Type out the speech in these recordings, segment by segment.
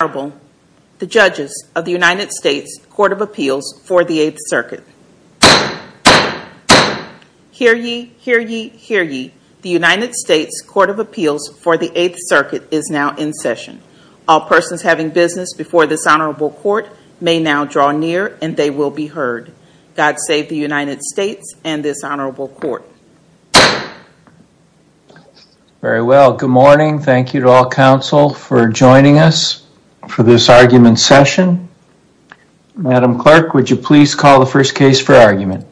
Honorable, the judges of the United States Court of Appeals for the 8th Circuit. Hear ye, hear ye, hear ye, the United States Court of Appeals for the 8th Circuit is now in session. All persons having business before this Honorable Court may now draw near and they will be heard. God save the United States and this Honorable Court. Very well. Good morning. Thank you to all counsel for joining us for this argument session. Madam Clerk, would you please call the first case for argument.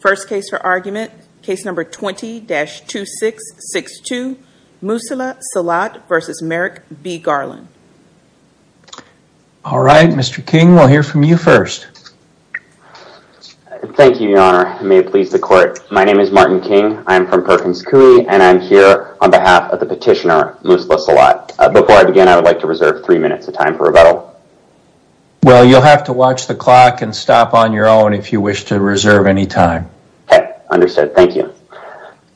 First case for argument, case number 20-2662, Musla Salat v. Merrick B. Garland. All right, Mr. King, we'll hear from you first. Thank you, Your Honor. May it please the Court. My name is Martin King. I'm from Perkins Coie and I'm here on behalf of the petitioner, Musla Salat. Before I begin, I would like to reserve three minutes of time for rebuttal. Well, you'll have to watch the clock and stop on your own if you wish to reserve any time. Okay, understood. Thank you.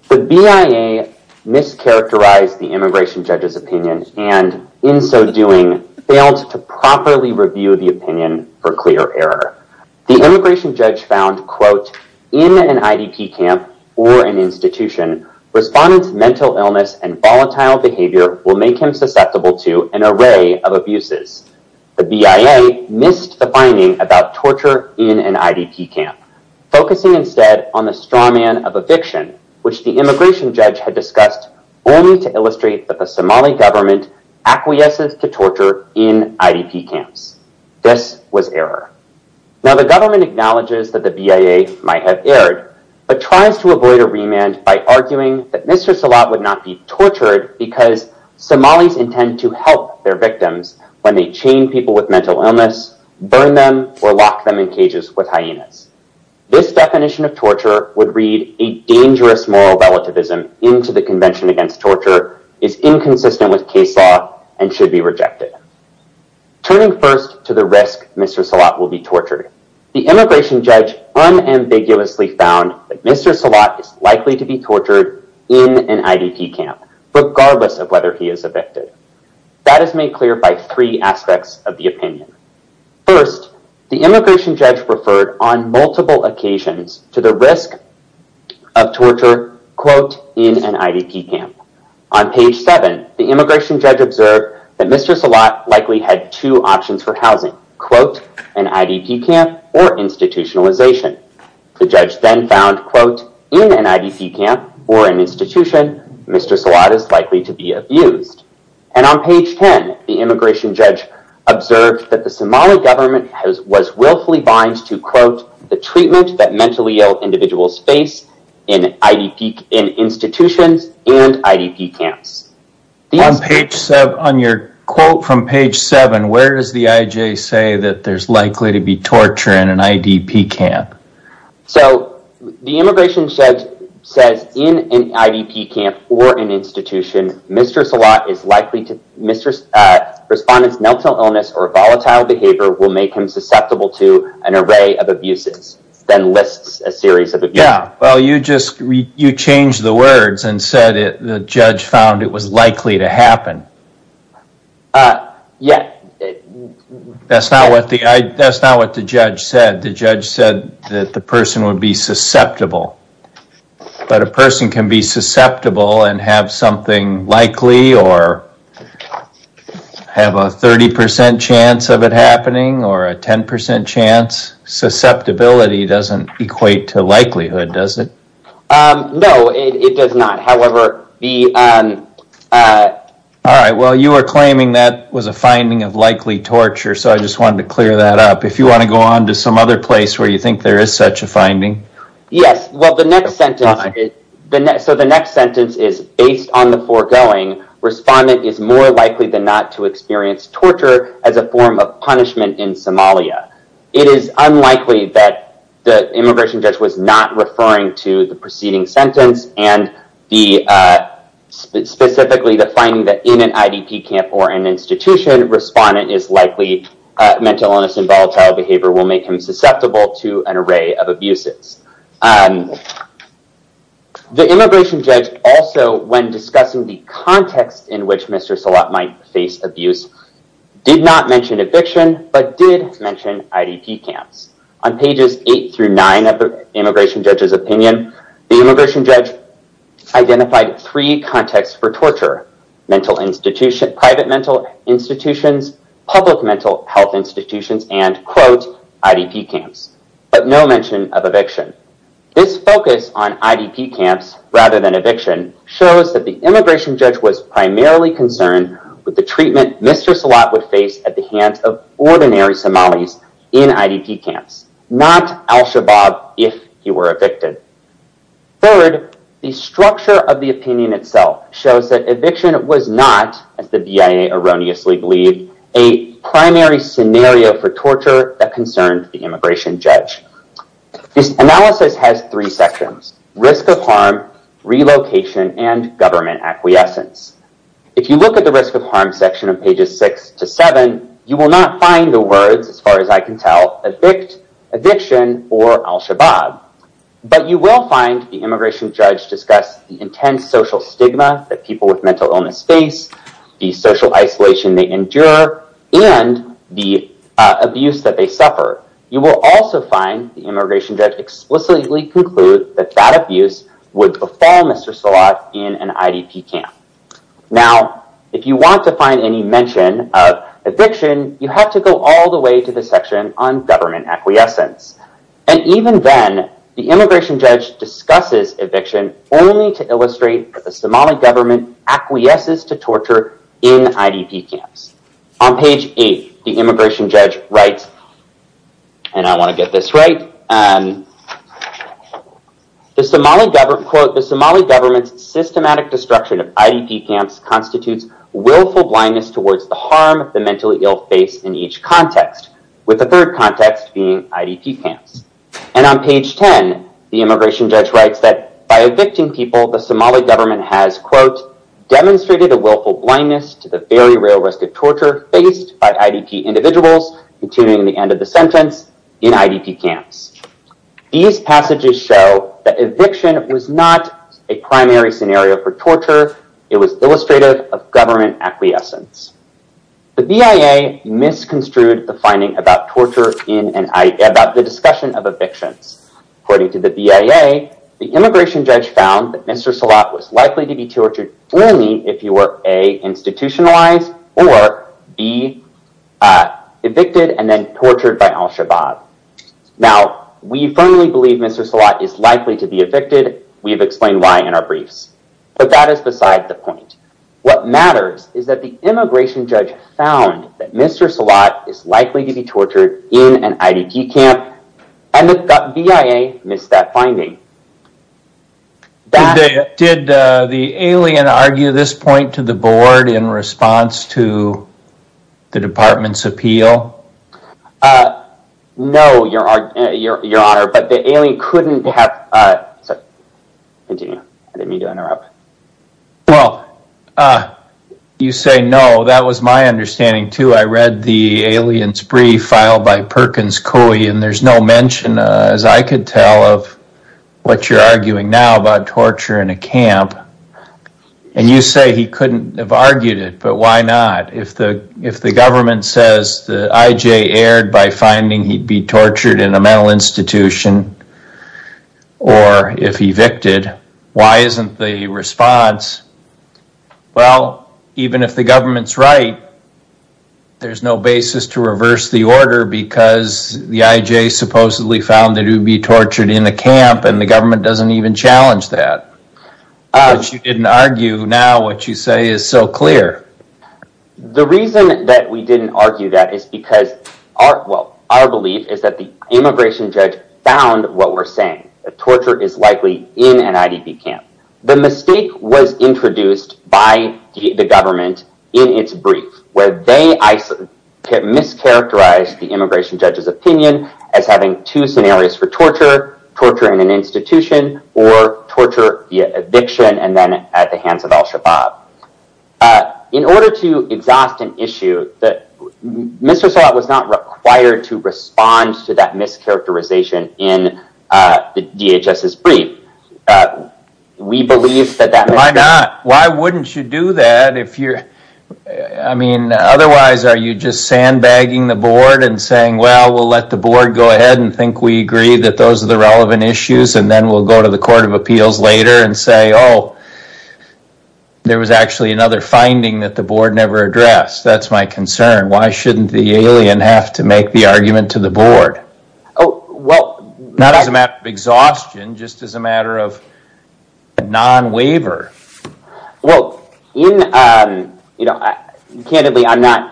The BIA mischaracterized the immigration judge's opinion and in so doing, failed to properly review the opinion for clear error. The immigration judge found, quote, in an IDP camp or an institution, respondents' mental illness and volatile behavior will make him susceptible to an array of abuses. The BIA missed the finding about torture in an IDP camp, focusing instead on the strawman of eviction, which the immigration judge had discussed only to illustrate that the Somali government acquiesces to torture in IDP camps. This was error. Now, the government acknowledges that the BIA might have erred, but tries to avoid a remand by arguing that Mr. Salat would not be tortured because Somalis intend to help their victims when they chain people with mental illness, burn them, or lock them in cages with hyenas. This definition of torture would read a dangerous moral relativism into the Convention Against Torture, is inconsistent with case law, and should be rejected. Turning first to the risk Mr. Salat will be tortured, the immigration judge unambiguously found that Mr. Salat is likely to be tortured in an IDP camp, regardless of whether he is evicted. That is made clear by three aspects of the opinion. First, the immigration judge referred on multiple occasions to the risk of torture, quote, in an IDP camp. On page 7, the immigration judge observed that Mr. Salat likely had two options for housing, quote, an IDP camp or institutionalization. The judge then found, quote, in an IDP camp or an institution, Mr. Salat is likely to be abused. And on page 10, the immigration judge observed that the Somali government was willfully bind to, quote, the treatment that mentally ill individuals face in institutions and IDP camps. On your quote from page 7, where does the IJ say that there's likely to be torture in an IDP camp? So the immigration judge says in an IDP camp or an institution, Mr. Salat is likely to Mr. Respondent's mental illness or volatile behavior will make him susceptible to an array of abuses, then lists a series of abuses. Yeah. Well, you just, you changed the words and said the judge found it was likely to happen. Yeah. That's not what the, that's not what the judge said. The judge said that the person would be susceptible. But a person can be susceptible and have something likely or have a 30% chance of it happening or a 10% chance. Susceptibility doesn't equate to likelihood, does it? No, it does not. However, the... All right. Well, you are claiming that was a finding of likely torture, so I just wanted to clear that up. If you want to go on to some other place where you think there is such a finding. Yes. Well, the next sentence, so the next sentence is, based on the foregoing, Respondent is more likely than not to experience torture as a form of punishment in Somalia. It is unlikely that the immigration judge was not referring to the preceding sentence and specifically the finding that in an IDP camp or an institution, Respondent is likely that the mental illness and volatile behavior will make him susceptible to an array of abuses. The immigration judge also, when discussing the context in which Mr. Salat might face abuse, did not mention eviction, but did mention IDP camps. On pages eight through nine of the immigration judge's opinion, the immigration judge identified three contexts for torture, private mental institutions, public mental health institutions, and, quote, IDP camps, but no mention of eviction. This focus on IDP camps rather than eviction shows that the immigration judge was primarily concerned with the treatment Mr. Salat would face at the hands of ordinary Somalis in IDP camps, not Al-Shabaab if he were evicted. Third, the structure of the opinion itself shows that eviction was not, as the BIA erroneously believed, a primary scenario for torture that concerned the immigration judge. This analysis has three sections, risk of harm, relocation, and government acquiescence. If you look at the risk of harm section of pages six to seven, you will not find the or Al-Shabaab, but you will find the immigration judge discuss the intense social stigma that people with mental illness face, the social isolation they endure, and the abuse that they suffer. You will also find the immigration judge explicitly conclude that that abuse would befall Mr. Salat in an IDP camp. Now, if you want to find any mention of eviction, you have to go all the way to the section on government acquiescence. Even then, the immigration judge discusses eviction only to illustrate that the Somali government acquiesces to torture in IDP camps. On page eight, the immigration judge writes, and I want to get this right, quote, the Somali government's systematic destruction of IDP camps constitutes willful blindness towards the harm the mentally ill face in each context. With the third context being IDP camps. And on page 10, the immigration judge writes that by evicting people, the Somali government has, quote, demonstrated a willful blindness to the very real risk of torture faced by IDP individuals, continuing the end of the sentence, in IDP camps. These passages show that eviction was not a primary scenario for torture. It was illustrative of government acquiescence. The BIA misconstrued the finding about torture in an IDP, about the discussion of evictions. According to the BIA, the immigration judge found that Mr. Salat was likely to be tortured only if you were, A, institutionalized, or, B, evicted and then tortured by al-Shabaab. Now, we firmly believe Mr. Salat is likely to be evicted. We have explained why in our briefs. But that is beside the point. What matters is that the immigration judge found that Mr. Salat is likely to be tortured in an IDP camp, and that the BIA missed that finding. Did the alien argue this point to the board in response to the department's appeal? No, your honor, but the alien couldn't have... Sorry, continue. I didn't mean to interrupt. Well, you say no. That was my understanding, too. I read the alien's brief filed by Perkins Coie, and there's no mention, as I could tell, of what you're arguing now about torture in a camp. And you say he couldn't have argued it, but why not? If the government says that IJ erred by finding he'd be tortured in a mental institution, or if evicted, why isn't the response, well, even if the government's right, there's no basis to reverse the order because the IJ supposedly found that he'd be tortured in a camp, and the government doesn't even challenge that. But you didn't argue, now what you say is so clear. The reason that we didn't argue that is because our belief is that the immigration judge found what we're saying, that torture is likely in an IDP camp. The mistake was introduced by the government in its brief, where they mischaracterized the immigration judge's opinion as having two scenarios for torture, torture in an institution, or torture via eviction and then at the hands of al-Shabaab. In order to exhaust an issue, Mr. Sawatt was not required to respond to that mischaracterization in the DHS's brief. We believe that that- Why not? Why wouldn't you do that? I mean, otherwise, are you just sandbagging the board and saying, well, we'll let the board go ahead and think we agree that those are the relevant issues, and then we'll go to the Court of Appeals later and say, oh, there was actually another finding that the board never addressed. That's my concern. Why shouldn't the alien have to make the argument to the board? Oh, well- Not as a matter of exhaustion, just as a matter of non-waiver. Well, candidly, I'm not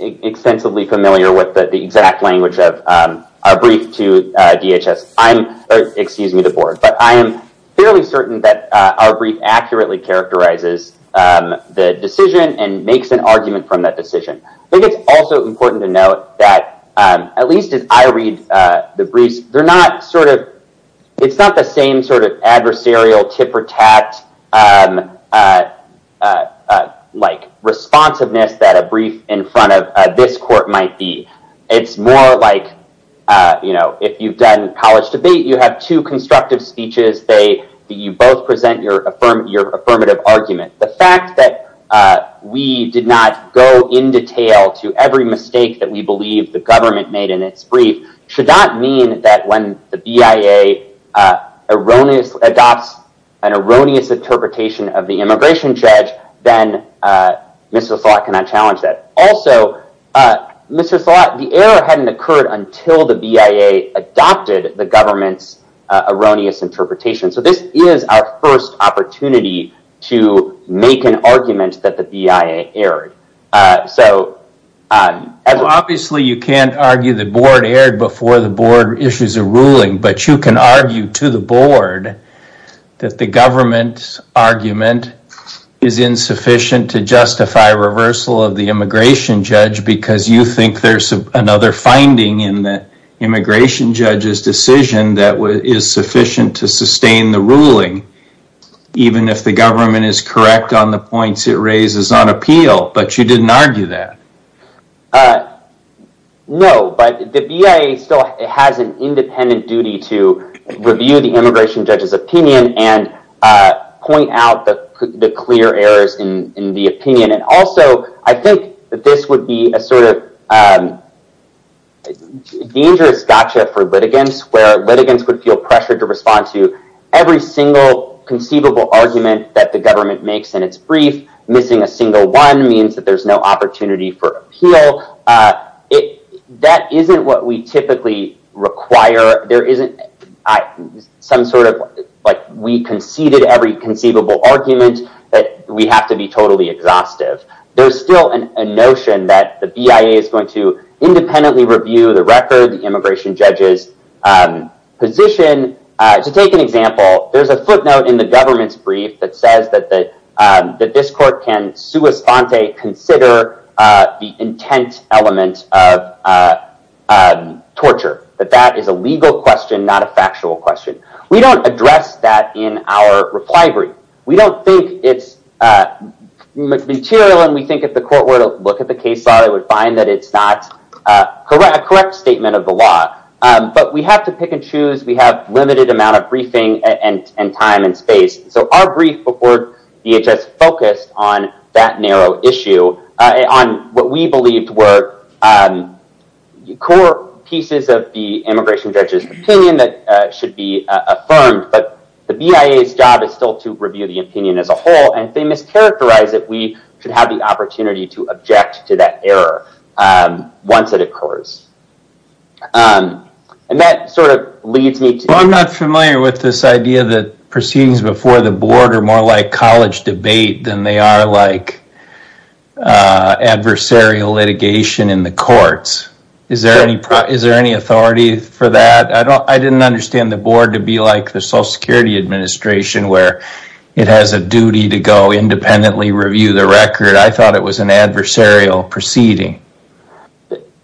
extensively familiar with the exact language of our brief to DHS. Excuse me, the board. But I am fairly certain that our brief accurately characterizes the decision and makes an argument from that decision. I think it's also important to note that, at least as I read the briefs, they're not sort of- It's not the same sort of adversarial, tip-or-tap-like responsiveness that a brief in front of this court might be. It's more like if you've done college debate, you have two constructive speeches. You both present your affirmative argument. The fact that we did not go in detail to every mistake that we believe the government made in its brief should not mean that when the BIA adopts an erroneous interpretation of the immigration judge, then Mr. Szilagyi cannot challenge that. Also, Mr. Szilagyi, the error hadn't occurred until the BIA adopted the government's erroneous interpretation. So this is our first opportunity to make an argument that the BIA erred. Obviously, you can't argue the board erred before the board issues a ruling, but you can argue to the board that the government's argument is insufficient to justify reversal of the immigration judge because you think there's another finding in the immigration judge's decision that is sufficient to sustain the ruling, even if the government is correct on the points it raises on appeal. But you didn't argue that. No, but the BIA still has an independent duty to review the immigration judge's opinion and point out the clear errors in the opinion. Also, I think that this would be a sort of dangerous gotcha for litigants where litigants would feel pressured to respond to every single conceivable argument that the government makes in its brief. Missing a single one means that there's no opportunity for appeal. That isn't what we typically require. There isn't some sort of like we conceded every conceivable argument that we have to be totally exhaustive. There's still a notion that the BIA is going to independently review the record, the immigration judge's position. To take an example, there's a footnote in the government's brief that says that this court can sua sponte consider the intent element of torture. But that is a legal question, not a factual question. We don't address that in our reply brief. We don't think it's material, and we think if the court were to look at the case law, they would find that it's not a correct statement of the law. But we have to pick and choose. We have limited amount of briefing and time and space. So our brief before DHS focused on that narrow issue, on what we believed were core pieces of the immigration judge's opinion that should be affirmed. But the BIA's job is still to review the opinion as a whole, and if they mischaracterize it, we should have the opportunity to object to that error once it occurs. And that sort of leads me to... Well, I'm not familiar with this idea that proceedings before the board are more like college debate than they are like adversarial litigation in the courts. Is there any authority for that? I didn't understand the board to be like the Social Security Administration where it has a duty to go independently review the record. I thought it was an adversarial proceeding.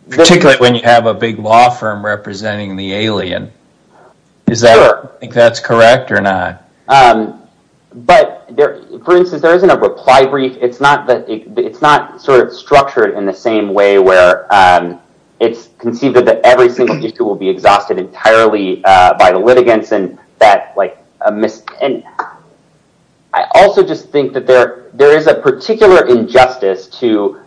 Particularly when you have a big law firm representing the alien. Is that correct or not? But, for instance, there isn't a reply brief. It's not sort of structured in the same way where it's conceived that every single issue will be exhausted entirely by the litigants. I also just think that there is a particular injustice to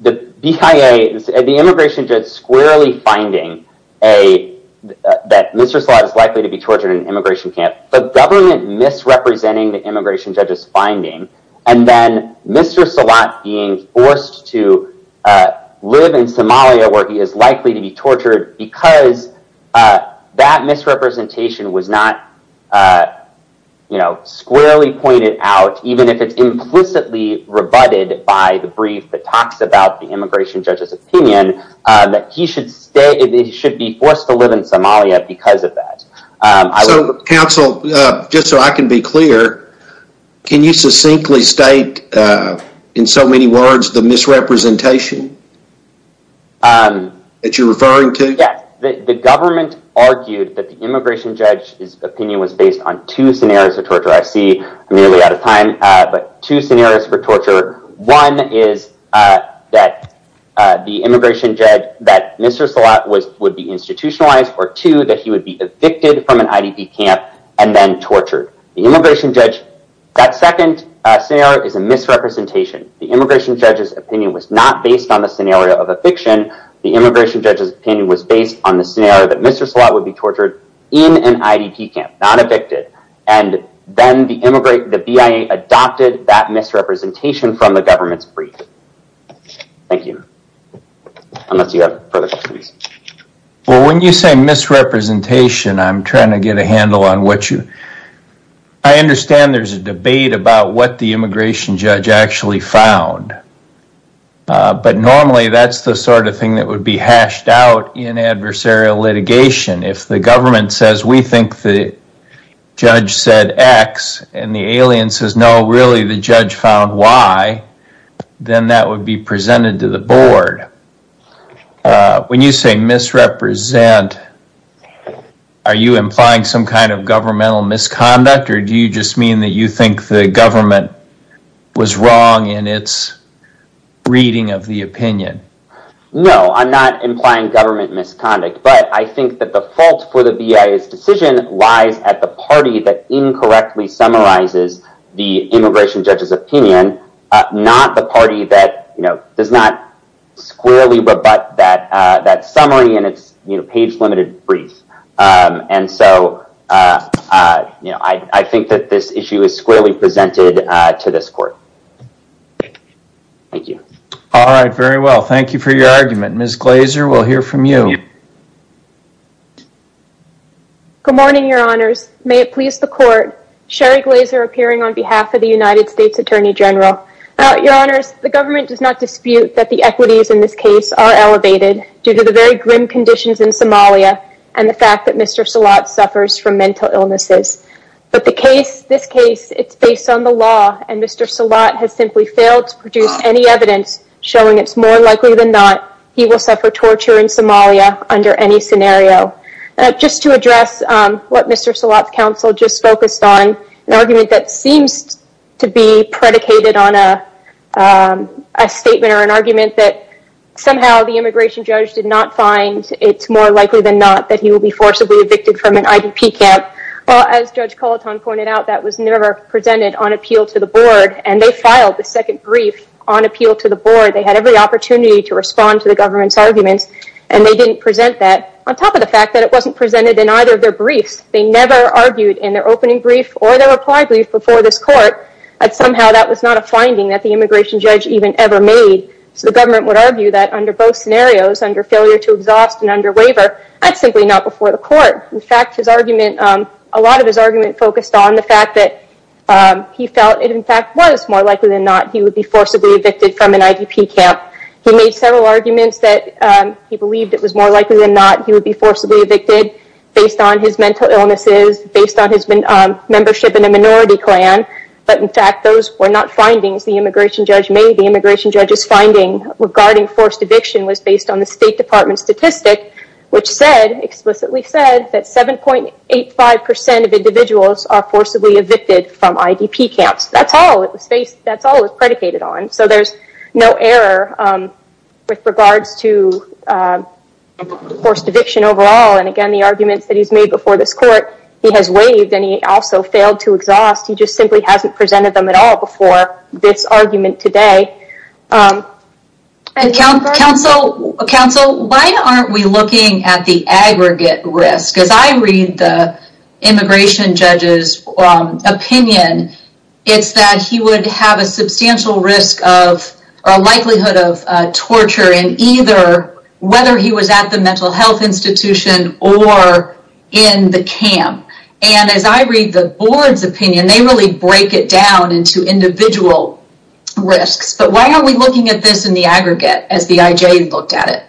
the BIA, the immigration judge squarely finding that Mr. Slott is likely to be tortured in an immigration camp. The government misrepresenting the immigration judge's finding and then Mr. Slott being forced to live in Somalia where he is likely to be tortured because that misrepresentation was not squarely pointed out, even if it's implicitly rebutted by the brief that talks about the immigration judge's opinion, that he should be forced to live in Somalia because of that. Counsel, just so I can be clear, can you succinctly state in so many words the misrepresentation that you're referring to? Yes. The government argued that the immigration judge's opinion was based on two scenarios of torture. I see I'm nearly out of time, but two scenarios for torture. One is that the immigration judge, that Mr. Slott would be institutionalized or two, that he would be evicted from an IDP camp and then tortured. The immigration judge, that second scenario is a misrepresentation. The immigration judge's opinion was not based on the scenario of eviction. The immigration judge's opinion was based on the scenario that Mr. Slott would be tortured in an IDP camp, not evicted. Then the BIA adopted that misrepresentation from the government's brief. Thank you. Unless you have further questions. Well, when you say misrepresentation, I'm trying to get a handle on what you... I understand there's a debate about what the immigration judge actually found, but normally that's the sort of thing that would be hashed out in adversarial litigation. If the government says, we think the judge said X and the alien says, no, really the judge found Y, then that would be presented to the board. When you say misrepresent, are you implying some kind of governmental misconduct or do you just mean that you think the government was wrong in its reading of the opinion? No, I'm not implying government misconduct, but I think that the fault for the BIA's decision lies at the party that incorrectly summarizes the immigration judge's opinion, not the party that does not squarely rebut that summary in its page-limited brief. And so I think that this issue is squarely presented to this court. Thank you. All right. Very well. Thank you for your argument. Ms. Glazer, we'll hear from you. Sherry Glazer appearing on behalf of the United States Attorney General. Your Honors, the government does not dispute that the equities in this case are elevated due to the very grim conditions in Somalia and the fact that Mr. Salat suffers from mental illnesses. But this case, it's based on the law and Mr. Salat has simply failed to produce any evidence showing it's more likely than not he will suffer torture in Somalia under any scenario. Just to address what Mr. Salat's counsel just focused on, an argument that seems to be predicated on a statement or an argument that somehow the immigration judge did not find it's more likely than not that he will be forcibly evicted from an IDP camp. Well, as Judge Colitone pointed out, that was never presented on appeal to the board and they filed the second brief on appeal to the board. They had every opportunity to respond to the government's arguments and they didn't present that on top of the fact that it wasn't presented in either of their briefs. They never argued in their opening brief or their reply brief before this court that somehow that was not a finding that the immigration judge even ever made. So the government would argue that under both scenarios, under failure to exhaust and under waiver, that's simply not before the court. In fact, a lot of his argument focused on the fact that he felt it in fact was more likely than not he would be forcibly evicted from an IDP camp. He made several arguments that he believed it was more likely than not he would be forcibly evicted based on his mental illnesses, based on his membership in a minority clan, but in fact those were not findings the immigration judge made. The immigration judge's finding regarding forced eviction was based on the State Department statistic which explicitly said that 7.85% of individuals are forcibly evicted from IDP camps. That's all it was predicated on. So there's no error with regards to forced eviction overall. And again, the arguments that he's made before this court, he has waived and he also failed to exhaust. He just simply hasn't presented them at all before this argument today. Counsel, why aren't we looking at the aggregate risk? As I read the immigration judge's opinion, it's that he would have a substantial risk of, a likelihood of torture in either, whether he was at the mental health institution or in the camp. And as I read the board's opinion, they really break it down into individual risks. But why aren't we looking at this in the aggregate as the IJ looked at it?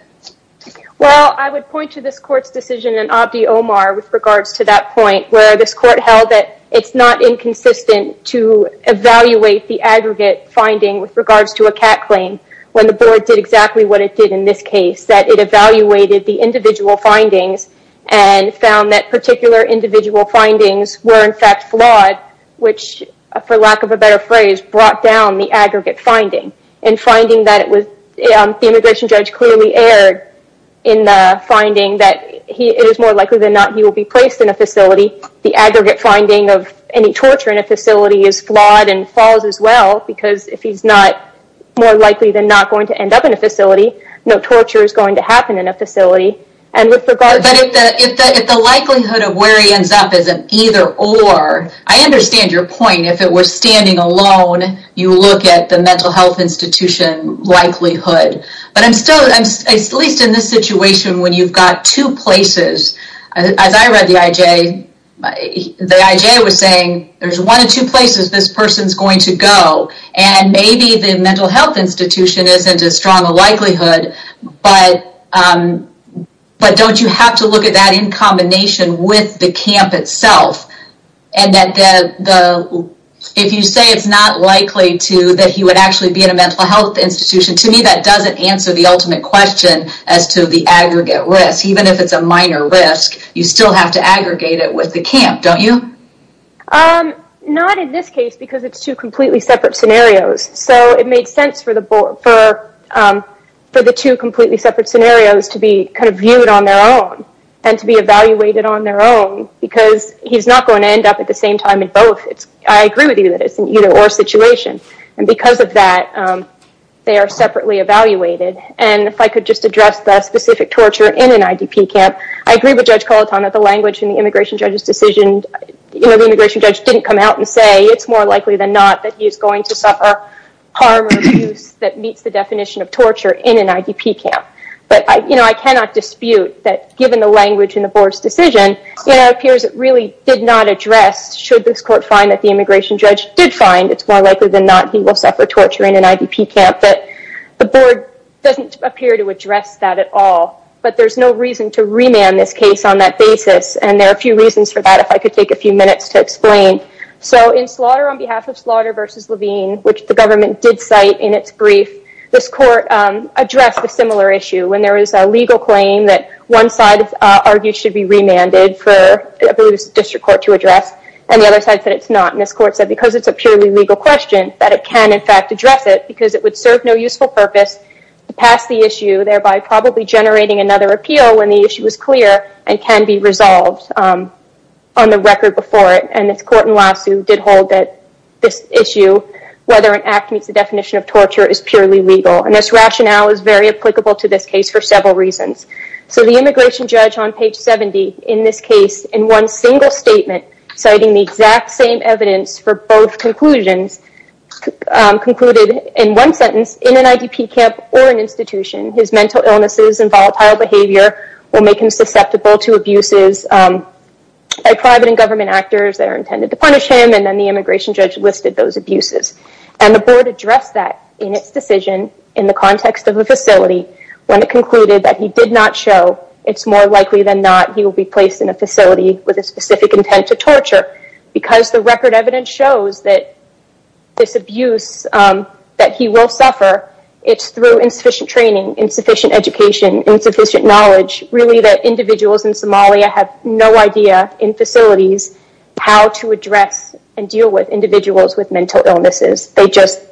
Well, I would point to this court's decision in Abdi Omar with regards to that point where this court held that it's not inconsistent to evaluate the aggregate finding with regards to a CAT claim when the board did exactly what it did in this case. That it evaluated the individual findings and found that particular individual findings were in fact flawed which, for lack of a better phrase, brought down the aggregate finding. The immigration judge clearly erred in the finding that it is more likely than not he will be placed in a facility. The aggregate finding of any torture in a facility is flawed and falls as well because if he's not more likely than not going to end up in a facility, no torture is going to happen in a facility. But if the likelihood of where he ends up is an either or, I understand your point. If it were standing alone, you would look at the mental health institution likelihood. But I'm still, at least in this situation, when you've got two places. As I read the IJ, the IJ was saying there's one of two places this person's going to go and maybe the mental health institution isn't as strong a likelihood but don't you have to look at that in combination with the camp itself? If you say it's not likely that he would actually be in a mental health institution, to me that doesn't answer the ultimate question as to the aggregate risk. Even if it's a minor risk, you still have to aggregate it with the camp, don't you? Not in this case because it's two completely separate scenarios. So it made sense for the two completely separate scenarios to be viewed on their own and to be evaluated on their own because he's not going to end up at the same time in both. I agree with you that it's an either or situation. And because of that, they are separately evaluated. And if I could just address the specific torture in an IDP camp, I agree with Judge Colitano that the language in the immigration judge's decision, the immigration judge didn't come out and say it's more likely than not that he's going to suffer harm or abuse that meets the definition of torture in an IDP camp. But I cannot dispute that given the language in the board's decision, it appears it really did not address, should this court find that the immigration judge did find it's more likely than not he will suffer torture in an IDP camp, that the board doesn't appear to address that at all. But there's no reason to remand this case on that basis. And there are a few reasons for that if I could take a few minutes to explain. So in Slaughter on behalf of Slaughter v. Levine, which the government did cite in its brief, this court addressed a similar issue when there was a legal claim that one side argued should be remanded for the district court to address, and the other side said it's not. And this court said because it's a purely legal question, that it can in fact address it because it would serve no useful purpose to pass the issue, thereby probably generating another appeal when the issue is clear and can be resolved on the record before it. And this court in Lassew did hold that this issue, whether an act meets the definition of torture, is purely legal. And this rationale is very applicable to this case for several reasons. So the immigration judge on page 70 in this case, in one single statement, citing the exact same evidence for both conclusions, concluded in one sentence, in an IDP camp or an institution, his mental illnesses and volatile behavior will make him susceptible to abuses by private and government actors that are intended to punish him. And then the immigration judge listed those abuses. And the board addressed that in its decision in the context of a facility when it concluded that he did not show it's more likely than not he will be placed in a facility with a specific intent to torture. Because the record evidence shows that this abuse, that he will suffer, it's through insufficient training, insufficient education, insufficient knowledge, really that individuals in Somalia have no idea, in facilities, how to address and deal with individuals with mental illnesses. They just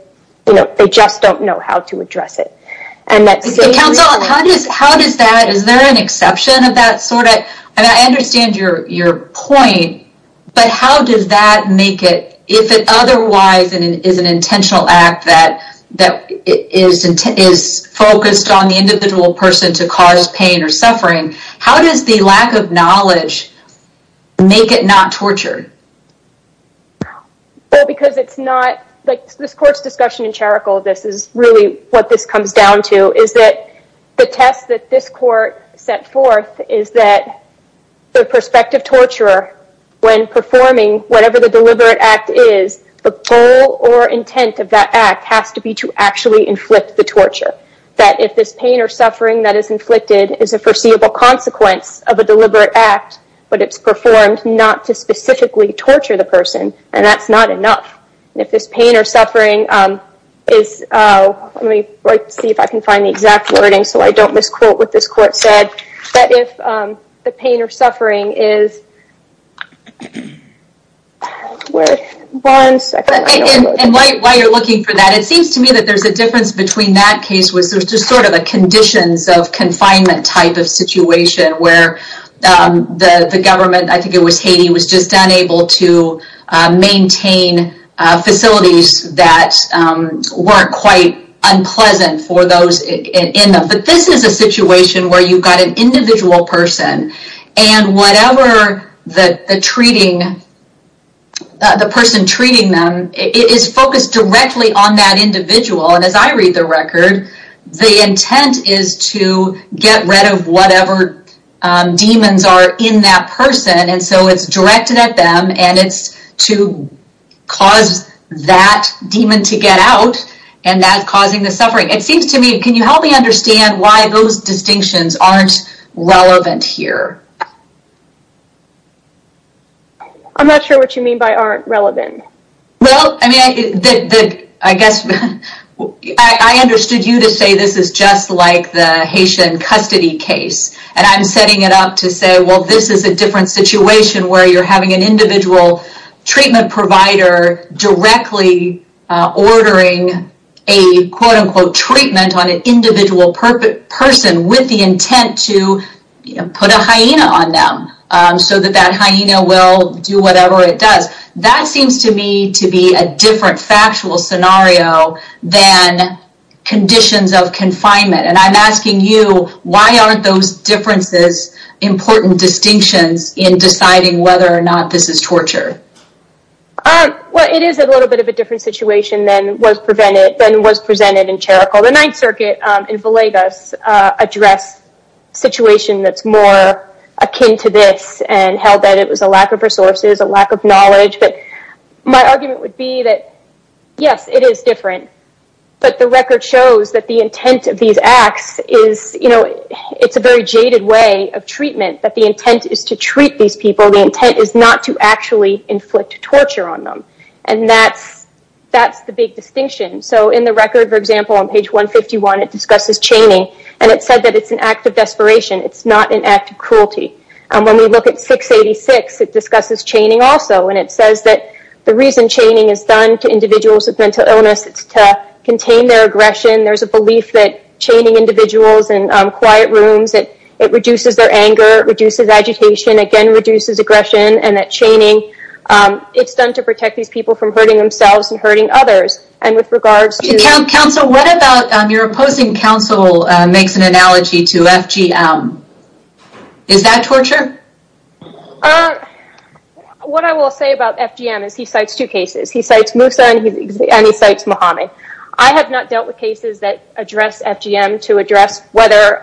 don't know how to address it. And that's... Counsel, how does that, is there an exception of that sort? I understand your point, but how does that make it, if it otherwise is an intentional act that is focused on the individual person to cause pain or suffering, how does the lack of knowledge make it not torture? Well, because it's not... This court's discussion in Cherico, this is really what this comes down to, is that the test that this court set forth is that the prospective torturer, when performing whatever the deliberate act is, the goal or intent of that act has to be to actually inflict the torture. That if this pain or suffering that is inflicted is a foreseeable consequence of a deliberate act, but it's performed not to specifically torture the person, then that's not enough. If this pain or suffering is... Let me see if I can find the exact wording so I don't misquote what this court said. That if the pain or suffering is... And while you're looking for that, it seems to me that there's a difference between that case which was just sort of a conditions of confinement type of situation where the government, I think it was Haiti, was just unable to maintain facilities that weren't quite unpleasant for those in them. But this is a situation where you've got an individual person and whatever the treating... It is focused directly on that individual. And as I read the record, the intent is to get rid of whatever demons are in that person. And so it's directed at them and it's to cause that demon to get out and that's causing the suffering. It seems to me, can you help me understand why those distinctions aren't relevant here? I'm not sure what you mean by aren't relevant. Well, I mean, I guess I understood you to say this is just like the Haitian custody case. And I'm setting it up to say, well, this is a different situation where you're having an individual treatment provider directly ordering a quote-unquote treatment on an individual person with the intent to put a hyena on them so that that hyena will do whatever it does. That seems to me to be a different factual scenario than conditions of confinement. And I'm asking you, why aren't those differences important distinctions in deciding whether or not this is torture? Well, it is a little bit of a different situation than was presented in Cherico. The Ninth Circuit in Villegas addressed a situation that's more akin to this and held that it was a lack of resources, a lack of knowledge. But my argument would be that, yes, it is different. But the record shows that the intent of these acts is, you know, it's a very jaded way of treatment, that the intent is to treat these people. The intent is not to actually inflict torture on them. And that's the big distinction. So in the record, for example, on page 151, it discusses chaining. And it said that it's an act of desperation. It's not an act of cruelty. And when we look at 686, it discusses chaining also. And it says that the reason chaining is done to individuals with mental illness, it's to contain their aggression. There's a belief that chaining individuals in quiet rooms, it reduces their anger, it reduces agitation, again, reduces aggression. And that chaining, it's done to protect these people from hurting themselves and hurting others. And with regards to... Counsel, what about your opposing counsel makes an analogy to FGM? Is that torture? What I will say about FGM is he cites two cases. He cites Moussa and he cites Mohammed. I have not dealt with cases that address FGM to address whether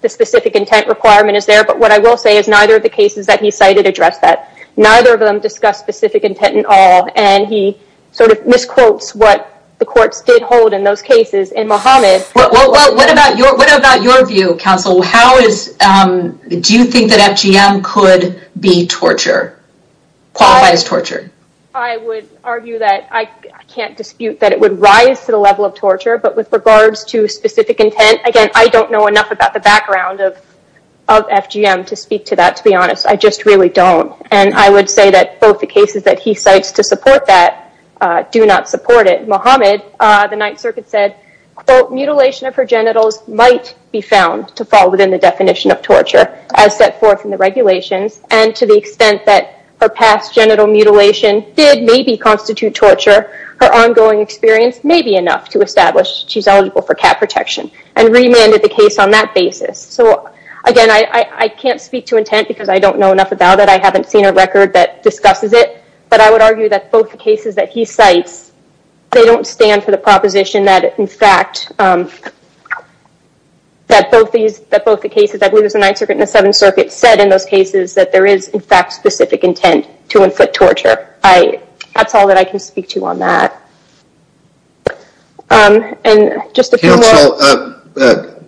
the specific intent requirement is there. But what I will say is neither of the cases that he cited address that. Neither of them discuss specific intent at all. And he sort of misquotes what the courts did hold in those cases. And Mohammed... Well, what about your view, Counsel? Do you think that FGM could be torture? Qualified as torture? I would argue that I can't dispute that it would rise to the level of torture. But with regards to specific intent, again, I don't know enough about the background of FGM to speak to that, to be honest. I just really don't. And I would say that both the cases that he cites to support that do not support it. Mohammed, the Ninth Circuit said, mutilation of her genitals might be found to fall within the definition of torture as set forth in the regulations. And to the extent that her past genital mutilation did maybe constitute torture, her ongoing experience may be enough to establish she's eligible for cat protection. And remanded the case on that basis. So, again, I can't speak to intent because I don't know enough about it. I haven't seen a record that discusses it. But I would argue that both the cases that he cites, they don't stand for the proposition that, in fact, that both the cases, I believe it was the Ninth Circuit and the Seventh Circuit, said in those cases that there is, in fact, specific intent to inflict torture. That's all that I can speak to on that. And just a few more. Counsel,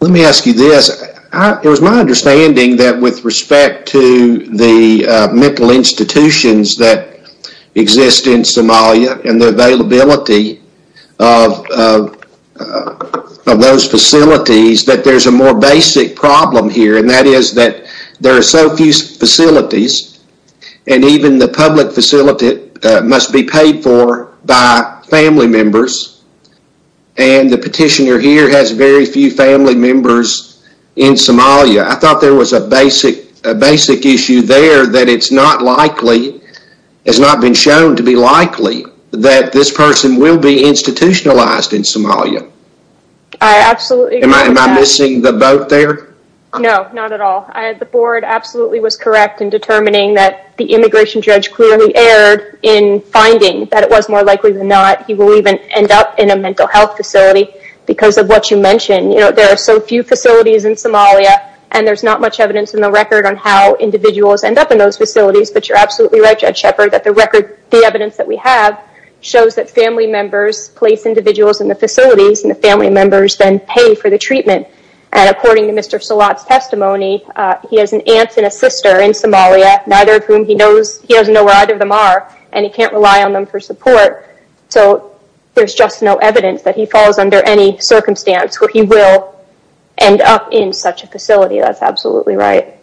let me ask you this. It was my understanding that with respect to the mental institutions that exist in Somalia and the availability of those facilities, that there's a more basic problem here. And that is that there are so few facilities, and even the public facility must be paid for by family members. And the petitioner here has very few family members in Somalia. I thought there was a basic issue there that it's not likely, that this person will be institutionalized in Somalia. Am I missing the boat there? No, not at all. The board absolutely was correct in determining that the immigration judge clearly erred in finding that it was more likely than not he will even end up in a mental health facility because of what you mentioned. There are so few facilities in Somalia, and there's not much evidence in the record on how individuals end up in those facilities. But you're absolutely right, Judge Shepard, that the evidence that we have shows that family members place individuals in the facilities, and the family members then pay for the treatment. And according to Mr. Salat's testimony, he has an aunt and a sister in Somalia, neither of whom he knows. He doesn't know where either of them are, and he can't rely on them for support. So there's just no evidence that he falls under any circumstance where he will end up in such a facility. That's absolutely right.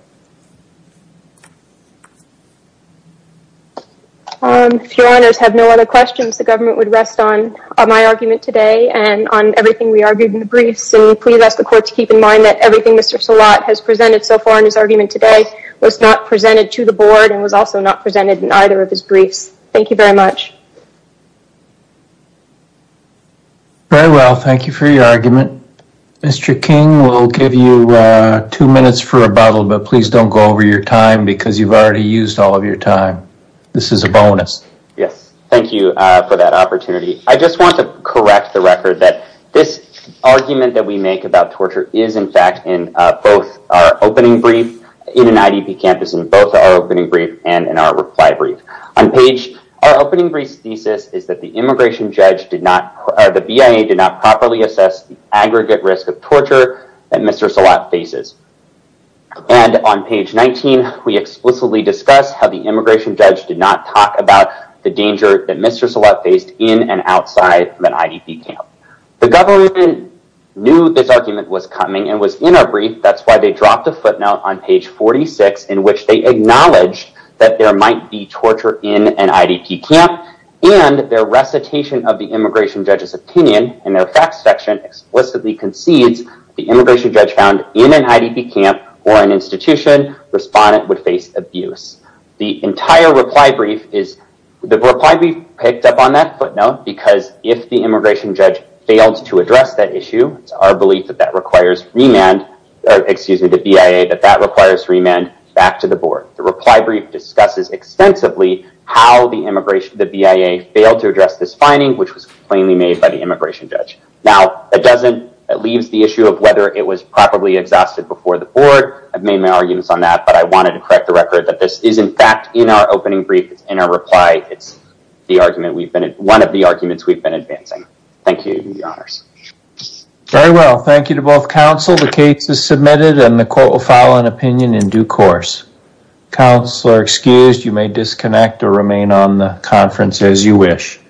If your honors have no other questions, the government would rest on my argument today and on everything we argued in the briefs. And please ask the court to keep in mind that everything Mr. Salat has presented so far in his argument today was not presented to the board and was also not presented in either of his briefs. Thank you very much. Very well. Thank you for your argument. Mr. King, we'll give you two minutes for rebuttal, but please don't go over your time because you've already used all of your time. This is a bonus. Yes. Thank you for that opportunity. I just want to correct the record that this argument that we make about torture is, in fact, in both our opening brief in an IDP campus, in both our opening brief and in our reply brief. On page... Our opening brief's thesis is that the immigration judge did not... or the BIA did not properly assess the aggregate risk of torture that Mr. Salat faces. And on page 19, we explicitly discuss how the immigration judge did not talk about the danger that Mr. Salat faced in and outside an IDP camp. The government knew this argument was coming and was in our brief. That's why they dropped a footnote on page 46 in which they acknowledged that there might be torture in an IDP camp and their recitation of the immigration judge's opinion in their facts section explicitly concedes the immigration judge found in an IDP camp or an institution respondent would face abuse. The entire reply brief is... The reply brief picked up on that footnote because if the immigration judge failed to address that issue, it's our belief that that requires remand... Excuse me, the BIA, that that requires remand back to the board. The reply brief discusses extensively how the immigration... The BIA failed to address this finding, which was plainly made by the immigration judge. Now, that doesn't... That leaves the issue of whether it was properly exhausted before the board. I've made my arguments on that, but I wanted to correct the record that this is, in fact, in our opening brief. It's in our reply. It's the argument we've been... One of the arguments we've been advancing. Thank you. You have the honors. Very well. Thank you to both counsel. The case is submitted and the court will file an opinion in due course. Counselor excused, you may disconnect or remain on the conference as you wish.